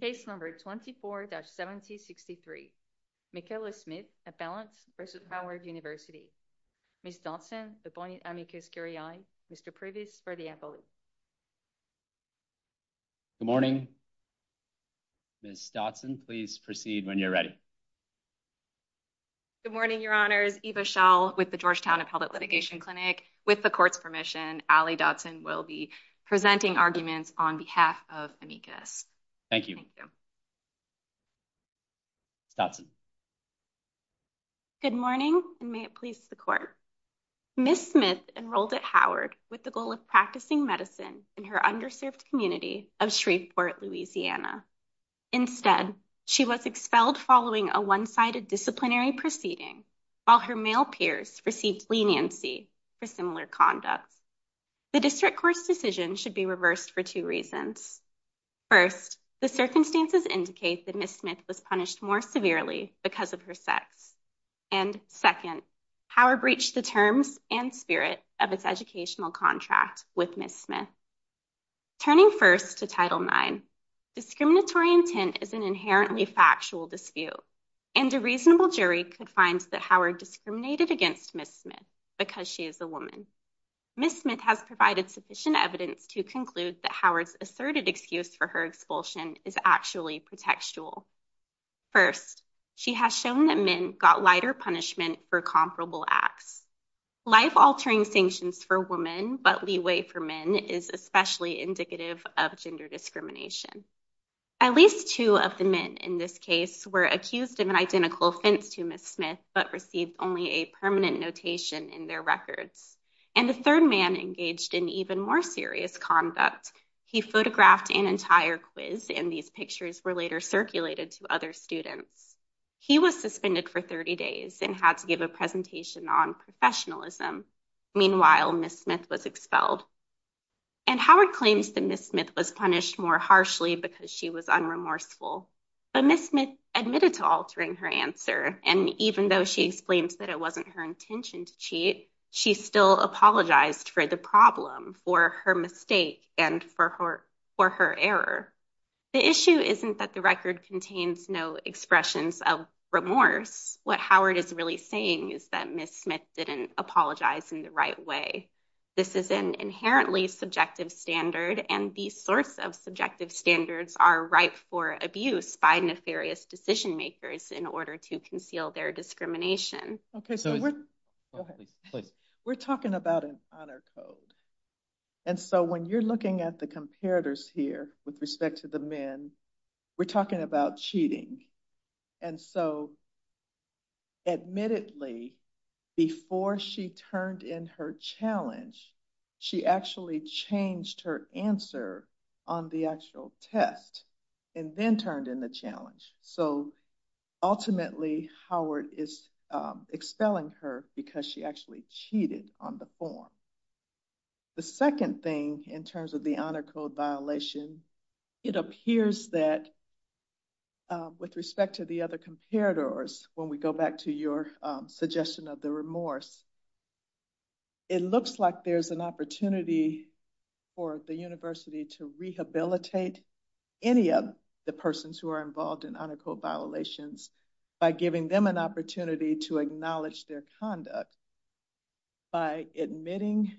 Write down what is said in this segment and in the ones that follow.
Case number 24-7063. Michaela Smith, Appellants v. Howard University. Ms. Dodson, appointing amicus curiae. Mr. Priebus for the appellate. Good morning. Ms. Dodson, please proceed when you're ready. Good morning, Your Honors. Eva Schall with the Georgetown Appellate Litigation Clinic. With the court's permission, Allie Dodson will be presenting arguments on behalf of amicus. Thank you. Ms. Dodson. Good morning, and may it please the court. Ms. Smith enrolled at Howard with the goal of practicing medicine in her underserved community of Shreveport, Louisiana. Instead, she was expelled following a one-sided disciplinary proceeding while her male peers received leniency for similar conduct. The district court's decision should be reversed for two reasons. First, the circumstances indicate that Ms. Smith was punished more severely because of her sex. And second, Howard breached the terms and spirit of its educational contract with Ms. Smith. Turning first to Title IX, discriminatory intent is an inherently factual dispute, and a reasonable jury could find that Howard discriminated against Ms. Smith because she is a woman. Ms. Smith has provided sufficient evidence to conclude that Howard's asserted excuse for her expulsion is actually pretextual. First, she has shown that men got lighter punishment for comparable acts. Life-altering sanctions for women but leeway for men is especially indicative of gender discrimination. At least two of the men in this case were accused of an identical offense to Ms. Smith but received only a permanent notation in their records. And the third man engaged in even more serious conduct. He photographed an entire quiz, and these pictures were later circulated to other students. He was suspended for 30 days and had to give a presentation on professionalism. Meanwhile, Ms. Smith was expelled. And Howard claims that Ms. Smith was punished more harshly because she was unremorseful. But Ms. Smith admitted to altering her answer, and even though she explains that it wasn't her intention to cheat, she still apologized for the problem, for her mistake, and for her error. The issue isn't that the record contains no expressions of remorse. What Howard is really saying is that Ms. Smith didn't apologize in the right way. This is an inherently subjective standard, and these sorts of subjective standards are ripe for abuse by nefarious decision makers in order to conceal their discrimination. We're talking about an honor code. And so when you're looking at the comparators here with respect to the men, we're talking about cheating. And so admittedly, before she turned in her challenge, she actually changed her answer on the actual test and then turned in the challenge. So ultimately, Howard is expelling her because she actually cheated on the form. The second thing in terms of the honor code violation, it appears that with respect to the other comparators, when we go back to your suggestion of the remorse, it looks like there's an opportunity for the university to rehabilitate any of the persons who are involved in honor code violations by giving them an opportunity to acknowledge their conduct by admitting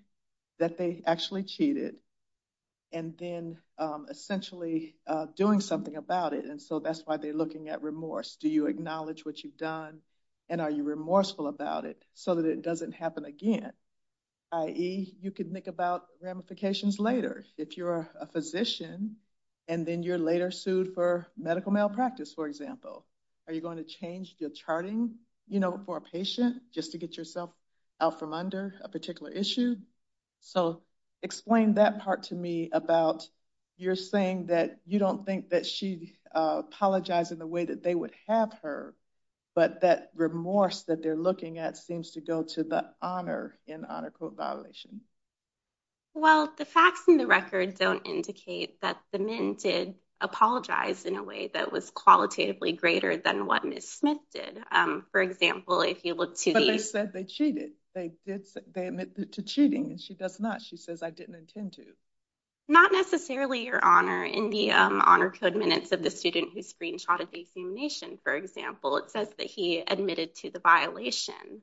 that they actually cheated and then essentially doing something about it. And so that's why they're looking at remorse. Do you acknowledge what you've done and are you remorseful about it so that it doesn't happen again, i.e. you could think about ramifications later if you're a physician and then you're later sued for medical malpractice, for example. Are you going to change your charting for a patient just to get yourself out from under a particular issue? So explain that part to me about you're saying that you don't think that she apologized in the way that they would have her, but that remorse that they're looking at seems to go to the honor in honor code violation. Well, the facts in the record don't indicate that the men did apologize in a way that was qualitatively greater than what Ms. Smith did. For example, if you look to the... But they said they cheated. They admitted to cheating and she does not. She says, I didn't intend to. Not necessarily your honor. In the honor code minutes of the student who screenshotted the examination, for example, it says that he admitted to the violation.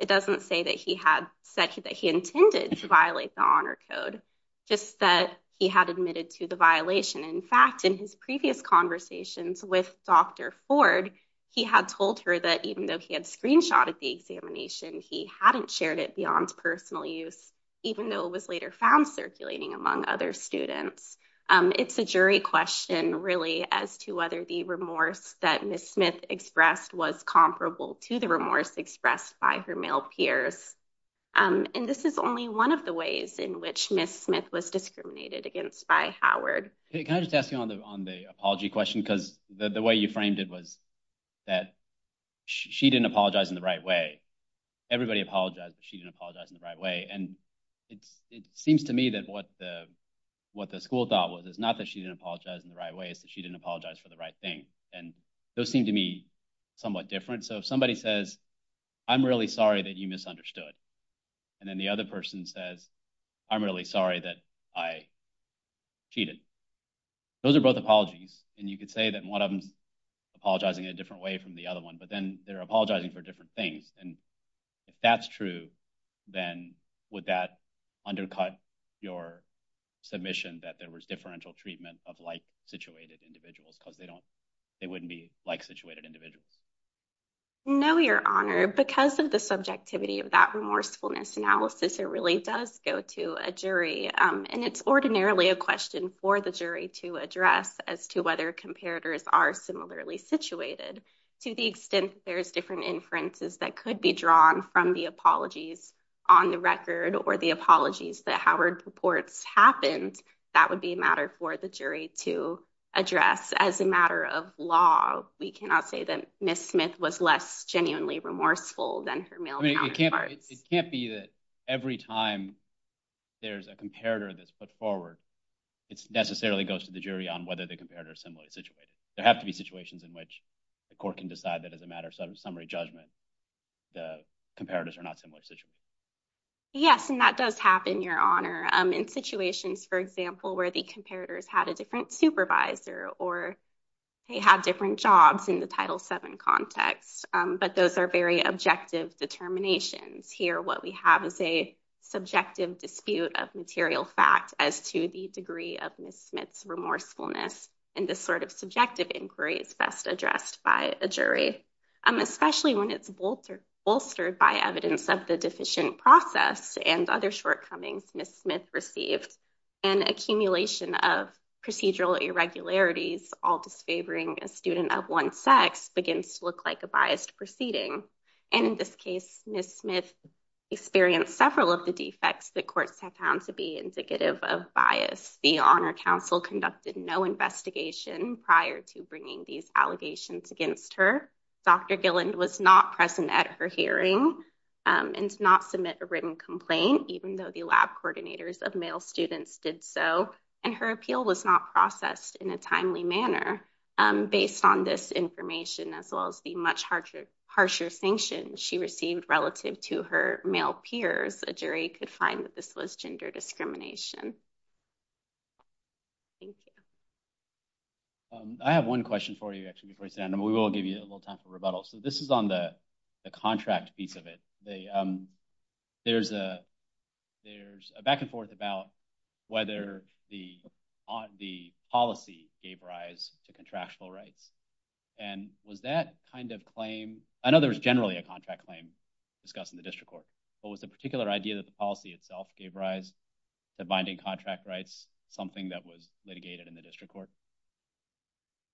It doesn't say that he had said that he intended to violate the honor code, just that he had admitted to the violation. In fact, in his previous conversations with Dr. Ford, he had told her that even though he had screenshotted the examination, he hadn't shared it beyond personal use, even though it was later found circulating among other students. It's a jury question really as to whether the remorse that Ms. Smith expressed was comparable to the remorse expressed by her male peers. And this is only one of the ways in which Ms. Smith was discriminated against by Howard. Can I just ask you on the apology question? Because the way you framed it was that she didn't apologize in the right way. Everybody apologized, but she didn't apologize in the right way. And it seems to me that what the school thought was not that she didn't apologize in the right way, it's that she didn't apologize for the right thing. And those seem to me somewhat different. So if somebody says, I'm really sorry that you misunderstood. And then the other person says, I'm really sorry that I cheated. Those are both apologies. And you could say that one of them is apologizing in a different way from the other one, but then they're apologizing for different things. And if that's true, then would that undercut your submission that there was differential treatment of like-situated individuals? Because they wouldn't be like-situated individuals. No, Your Honor. Because of the subjectivity of that remorsefulness analysis, it really does go to a jury. And it's ordinarily a question for the jury to address as to whether comparators are similarly situated. To the extent there's different inferences that could be drawn from the apologies on the record or the apologies that Howard purports happened, that would be a matter for the jury to address. As a matter of law, we cannot say that Ms. Smith was less genuinely remorseful than her male counterparts. I mean, it can't be that every time there's a comparator that's put forward, it necessarily goes to the jury on whether the comparator is similarly situated. There have to be situations in which the court can decide that as a matter of summary judgment, the comparators are not similarly situated. Yes, and that does happen, Your Honor, in situations, for example, where the comparators had a different supervisor or they had different jobs in the Title VII context. But those are very objective determinations here. What we have is a subjective dispute of material fact as to the degree of Ms. Smith's remorsefulness. And this sort of subjective inquiry is best addressed by a jury, especially when it's bolstered by evidence of the deficient process and other shortcomings Ms. Smith received. An accumulation of procedural irregularities, all disfavoring a student of one sex, begins to look like a biased proceeding. And in this case, Ms. Smith experienced several of the defects that courts have found to be indicative of bias. The Honor Council conducted no investigation prior to bringing these allegations against her. Dr. Gilland was not present at her hearing and did not submit a written complaint, even though the lab coordinators of male students did so. And her appeal was not processed in a timely manner. Based on this information, as well as the much harsher sanctions she received relative to her male peers, a jury could find that this was gender discrimination. Thank you. I have one question for you, actually, before you sit down. And we will give you a little time for rebuttal. So this is on the contract piece of it. There's a back and forth about whether the policy gave rise to contractual rights. And was that kind of claim, I know there was generally a contract claim discussed in the district court, but was the particular idea that the policy itself gave rise to binding contract rights something that was litigated in the district court?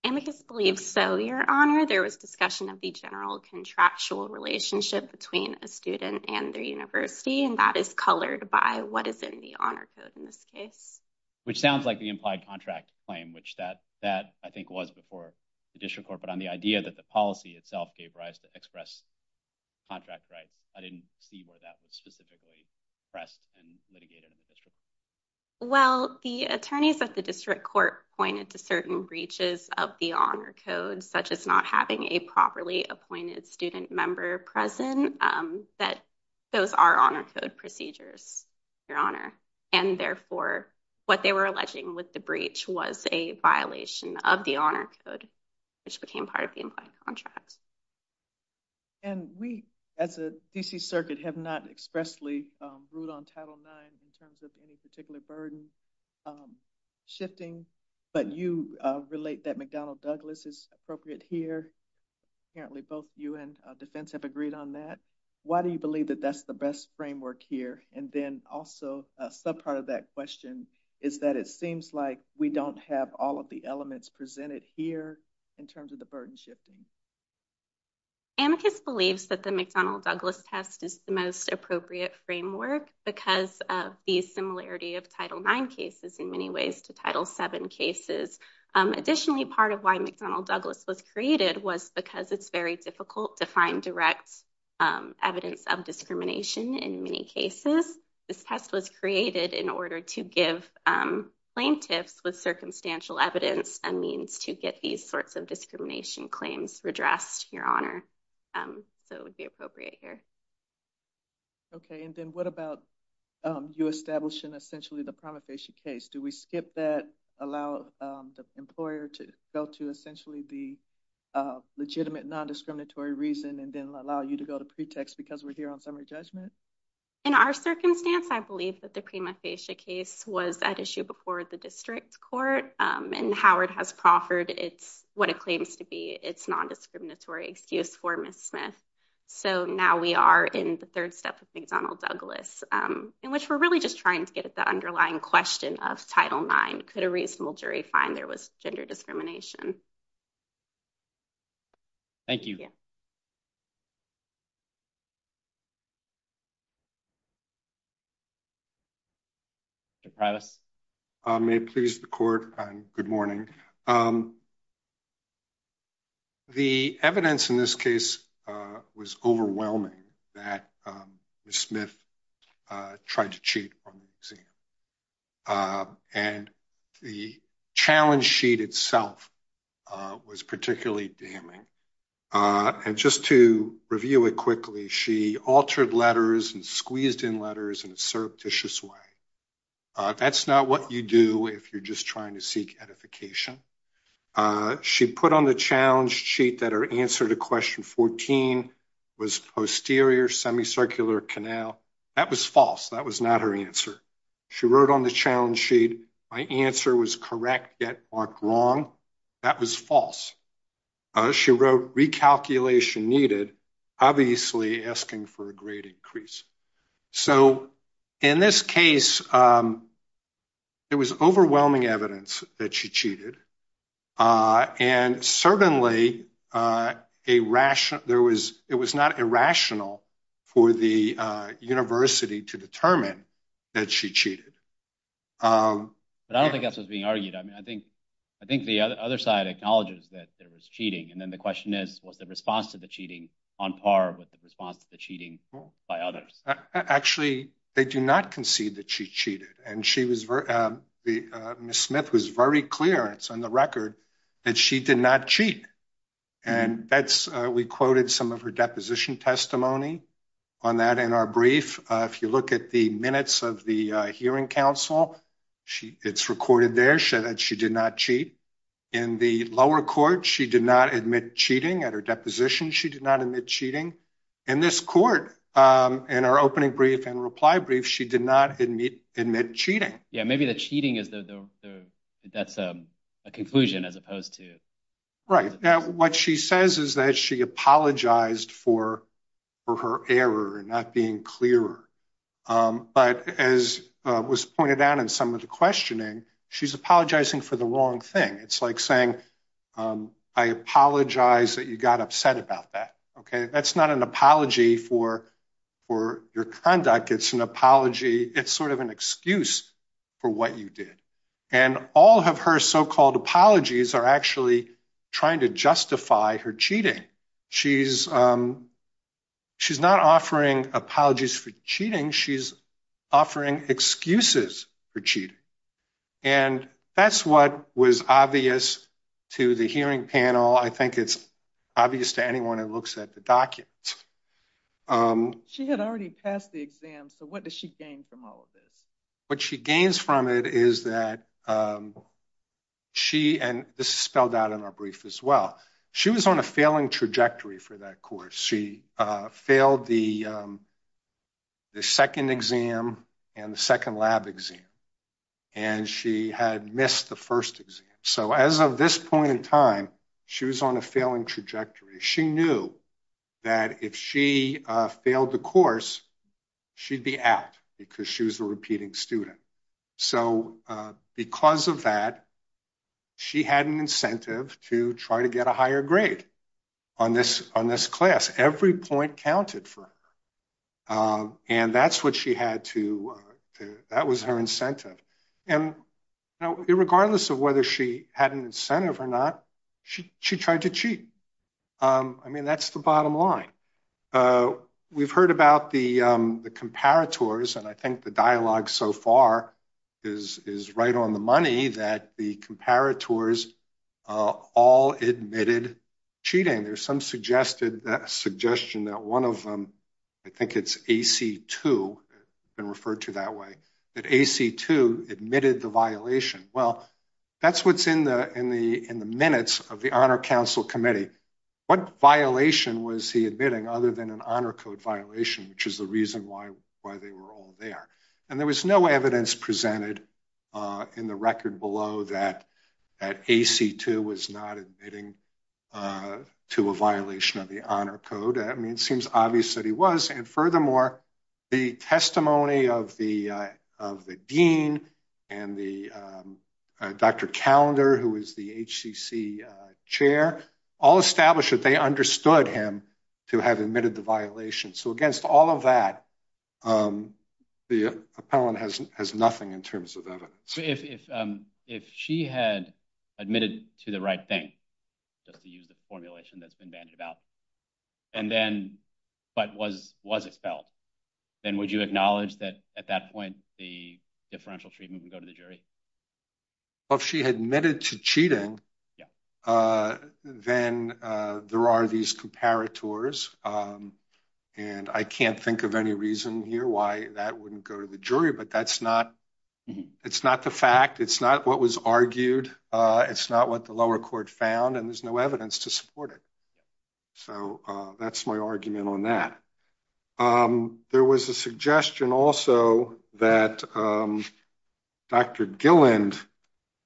And we just believe so, your honor. There was discussion of the general contractual relationship between a student and their university. And that is colored by what is in the honor code in this case. Which sounds like the implied contract claim, which that I think was before the district court. But on the idea that the policy itself gave rise to express contract rights, I didn't see where that was specifically pressed and litigated in the district court. Well, the attorneys at the district court pointed to certain breaches of the honor code, such as not having a properly appointed student member present, that those are honor code procedures, your honor. And therefore, what they were alleging with the breach was a violation of the honor code, which became part of the implied contract. And we, as a DC circuit, have not expressly ruled on Title IX in terms of any particular burden shifting. But you relate that McDonnell Douglas is appropriate here. Apparently, both you and defense have agreed on that. Why do you believe that that's the best framework here? And then also, a sub part of that question is that it seems like we don't have all of the elements presented here in terms of the burden shifting. Amicus believes that the McDonnell Douglas test is the most appropriate framework because of the similarity of Title IX cases in many ways to Title VII cases. Additionally, part of why McDonnell Douglas was created was because it's very difficult to find direct evidence of discrimination in many cases. This test was created in order to give plaintiffs with circumstantial evidence a means to get these sorts of discrimination claims redressed, your honor. So it would be appropriate here. Okay. And then what about you establishing essentially the prima facie case? Do we skip that, allow the employer to go to essentially the legitimate non-discriminatory reason and then allow you to go to pretext because we're here on summary judgment? In our circumstance, I believe that the prima facie case was at issue before the district court and Howard has proffered what it claims to be its non-discriminatory excuse for Ms. Smith. So now we are in the third step of McDonnell Douglas in which we're really just trying to get at the underlying question of Title IX. Could a reasonable jury find there gender discrimination? Thank you. May it please the court and good morning. The evidence in this case was overwhelming that Ms. Smith tried to cheat on the exam. And the challenge sheet itself was particularly damning. And just to review it quickly, she altered letters and squeezed in letters in a surreptitious way. That's not what you do if you're just trying to seek edification. She put on the challenge sheet that her answer to question 14 was posterior semicircular canal. That was false. That was not her answer. She wrote on the challenge sheet, my answer was correct yet marked wrong. That was false. She wrote recalculation needed, obviously asking for a great increase. So in this case, it was overwhelming evidence that she cheated. And certainly, it was not irrational for the university to determine that she cheated. But I don't think that's what's being argued. I think the other side acknowledges that there was cheating. And then the question is, was the response to the cheating on par with the response to the cheating by others? Actually, they do not concede that she cheated. And Ms. Smith was very clear, it's on the record, that she did not cheat. And we quoted some of her deposition testimony on that in our brief. If you look at the minutes of the hearing council, it's recorded there that she did not cheat. In the lower court, she did not admit cheating. At her deposition, she did not admit cheating. In this court, in our opening brief and reply brief, she did not admit cheating. Yeah, maybe the cheating, that's a conclusion as opposed to... Right. Now, what she says is that she apologized for her error and not being clearer. But as was pointed out in some of the questioning, she's apologizing for the wrong thing. It's like saying, I apologize that you got upset about that. That's not an apology for your conduct, it's an apology, it's sort of an excuse for what you did. And all of her so-called apologies are actually trying to justify her cheating. She's not offering apologies for cheating, she's offering excuses for cheating. And that's what was obvious to the hearing panel. I think it's obvious to anyone who looks at the documents. She had already passed the exam, so what does she gain from all of this? What she gains from it is that she, and this is spelled out in our brief as well, she was on a failing trajectory for that course. She failed the second exam and the second trajectory. She knew that if she failed the course, she'd be out because she was a repeating student. So because of that, she had an incentive to try to get a higher grade on this class, every point counted for her. And that was her incentive. And regardless of whether she had an incentive or not, she tried to cheat. I mean, that's the bottom line. We've heard about the comparators, and I think the dialogue so far is right on the money that the comparators all admitted cheating. There's some suggestion that one of them, I think it's AC2, been referred to that way, that AC2 admitted the violation. Well, that's what's in the minutes of the Honor Council Committee. What violation was he admitting other than an Honor Code violation, which is the reason why they were all there? And there was no evidence presented in the record below that AC2 was not admitting to a violation of the Honor Code. I mean, it seems obvious that he was. And furthermore, the testimony of the dean and Dr. Callender, who is the HCC chair, all established that they understood him to have admitted the violation. So against all of that, the appellant has nothing in terms of evidence. If she had admitted to the right thing, just to use the formulation that's been bandied about, but was expelled, then would you acknowledge that at that point the differential treatment would go to the jury? Well, if she admitted to cheating, then there are these comparators. And I can't think of any reason here why that wouldn't go to the jury, but that's not the fact. It's not what was argued. It's not what the lower court found, and there's no evidence to support it. So that's my argument on that. There was a suggestion also that Dr. Gilland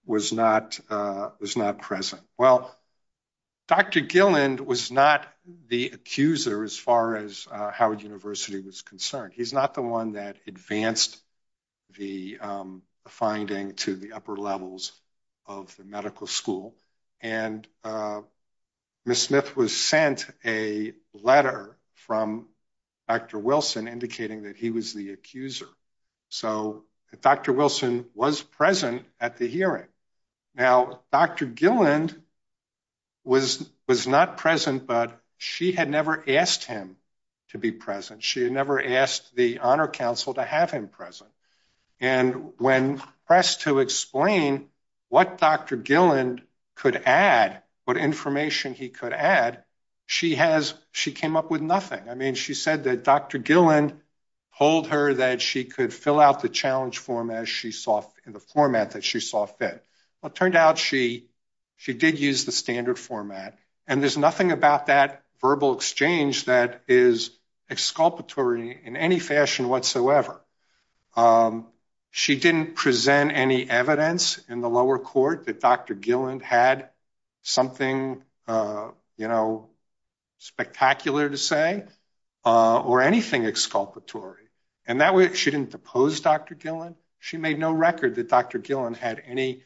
was not present. Well, Dr. Gilland was not the accuser as far as Howard University was concerned. He's not the one that advanced the finding to the upper levels of the medical school. And Ms. Smith was sent a letter from Dr. Wilson indicating that he was the accuser. So Dr. Wilson was present at the hearing. Now, Dr. Gilland was not present, but she had never asked him to be present. She had never asked the Honor Council to have him present. And when pressed to explain what Dr. Gilland could add, what information he could add, she came up with nothing. I mean, she said that Dr. Gilland told her that she could fill out the challenge form in the format that she saw fit. Well, it turned out she did use the standard format. And there's nothing about that verbal exchange that is exculpatory in any fashion whatsoever. She didn't present any evidence in the lower court that Dr. Gilland had something spectacular to say or anything exculpatory. And that way, she didn't depose Dr. Gilland. She made no record that Dr. Gilland had any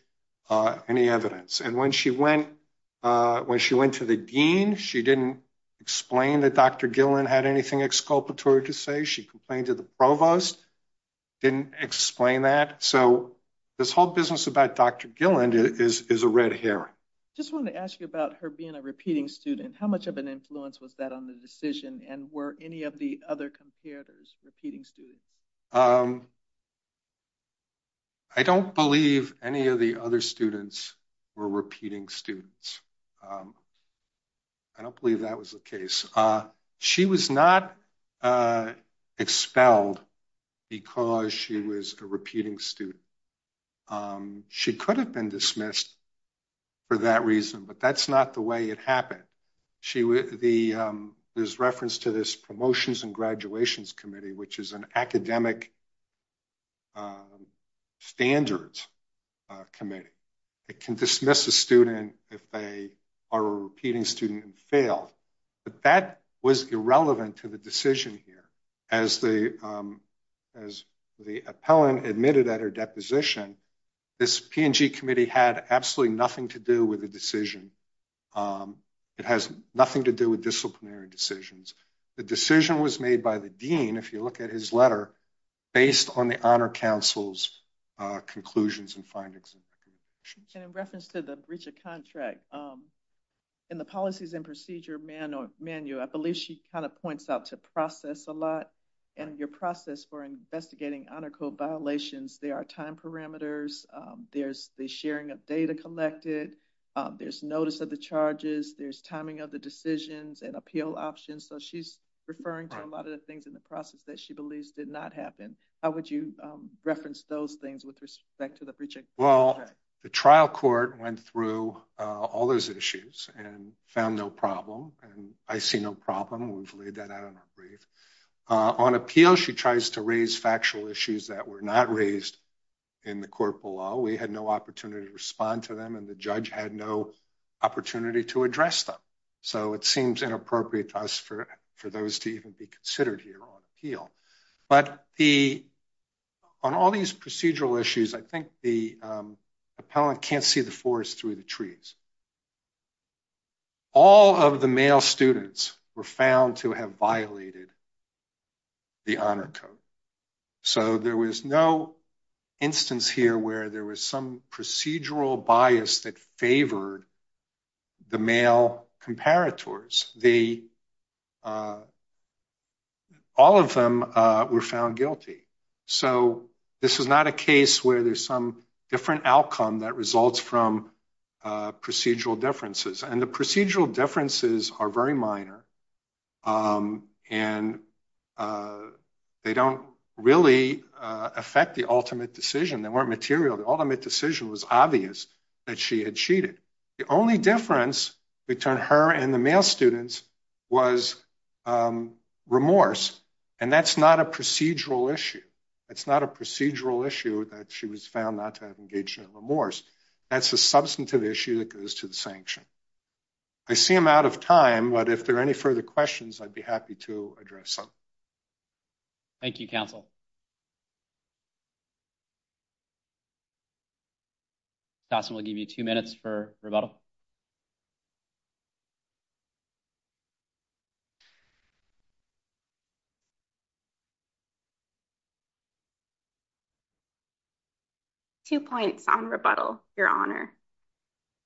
evidence. And when she went to the dean, she didn't explain that Dr. Gilland had anything exculpatory to say. She complained to the provost, didn't explain that. So this whole business about Dr. Gilland is a red herring. I just want to ask you about her being a repeating student. How much of an influence was that on the decision? And were any of the other competitors repeating students? I don't believe any of the other students were repeating students. I don't believe that was the case. She was not expelled because she was a repeating student. She could have been dismissed for that reason, but that's not the way it happened. There's reference to this Promotions and Graduations Committee, which is an academic standards committee. It can dismiss a student if they are a repeating student and failed. But that was irrelevant to the decision here. As the appellant admitted at her deposition, this P&G committee had absolutely nothing to do with the decision. It has nothing to do with disciplinary decisions. The decision was made by the dean, if you look at his letter, based on the Honor Council's conclusions and findings. And in reference to the breach of contract, in the policies and procedure manual, I believe she kind of points out to process a lot and your process for investigating honor code violations, there are time parameters, there's the sharing of data collected, there's notice of the charges, there's timing of the decisions and appeal options. So she's referring to a lot of the things in the process that she believes did not happen. How would you reference those things with respect to the breach of contract? Well, the trial court went through all those issues and found no problem. And I see no problem. We've laid that out on our brief. On appeal, she tries to raise factual issues that were not raised in the court below. We had no opportunity to respond to them and the judge had no opportunity to address them. So it seems inappropriate to us for those to even be considered here on appeal. But on all these procedural issues, I think the appellant can't see the forest through the trees. All of the male students were found to have violated the honor code. So there was no instance here where there was some procedural bias that favored the male comparators. All of them were found guilty. So this is not a case where there's some different outcome that results from procedural differences. And the differences are very minor. And they don't really affect the ultimate decision. They weren't material. The ultimate decision was obvious that she had cheated. The only difference between her and the male students was remorse. And that's not a procedural issue. It's not a procedural issue that she was found not to have engaged in remorse. That's a substantive issue that goes to the sanction. I see I'm out of time, but if there are any further questions, I'd be happy to address them. Thank you, counsel. Dawson will give you two minutes for rebuttal. Two points on rebuttal, Your Honor.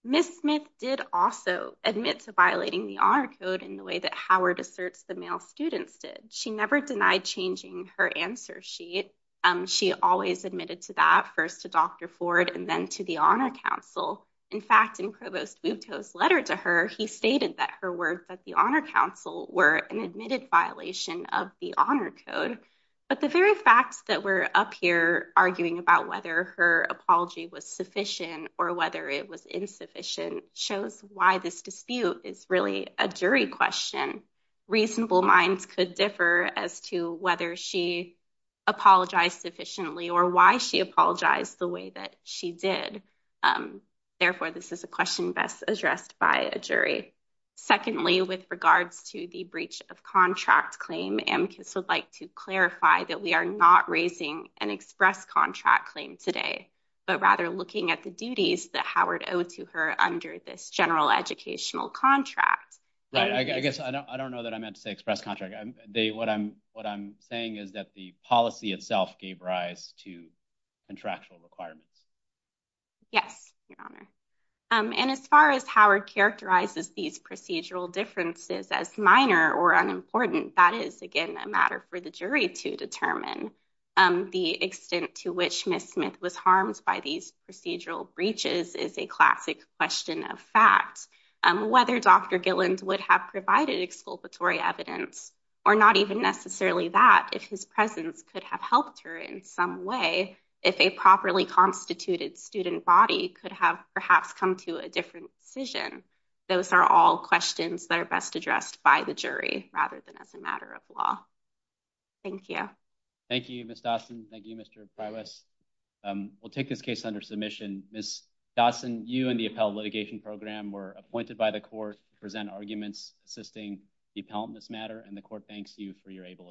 Ms. Smith did also admit to violating the honor code in the way that Howard asserts the male students did. She never denied changing her answer sheet. She always admitted to that, first to Dr. Ford and then to the Honor Council. In fact, in Provost Butto's letter to her, he stated that her words at the Honor Council were an admitted violation of the honor code. But the very fact that we're up here arguing about whether her apology was sufficient or whether it was insufficient shows why this dispute is really a jury question. Reasonable minds could differ as to whether she apologized sufficiently or why she the way that she did. Therefore, this is a question best addressed by a jury. Secondly, with regards to the breach of contract claim, Amicus would like to clarify that we are not raising an express contract claim today, but rather looking at the duties that Howard owed to her under this general educational contract. Right. I guess I don't know that I meant to saying is that the policy itself gave rise to contractual requirements. Yes, Your Honor. And as far as Howard characterizes these procedural differences as minor or unimportant, that is, again, a matter for the jury to determine. The extent to which Ms. Smith was harmed by these procedural breaches is a classic question of fact. Whether Dr. Gillens would have provided exculpatory evidence or not even necessarily that, if his presence could have helped her in some way, if a properly constituted student body could have perhaps come to a different decision. Those are all questions that are best addressed by the jury rather than as a matter of law. Thank you. Thank you, Ms. Dawson. Thank you, Mr. Pryor. We'll take this case under submission. Ms. Dawson, you and the appellate litigation program were appointed by the court to present arguments assisting the appellant in this matter, and the court thanks you for your able assistance.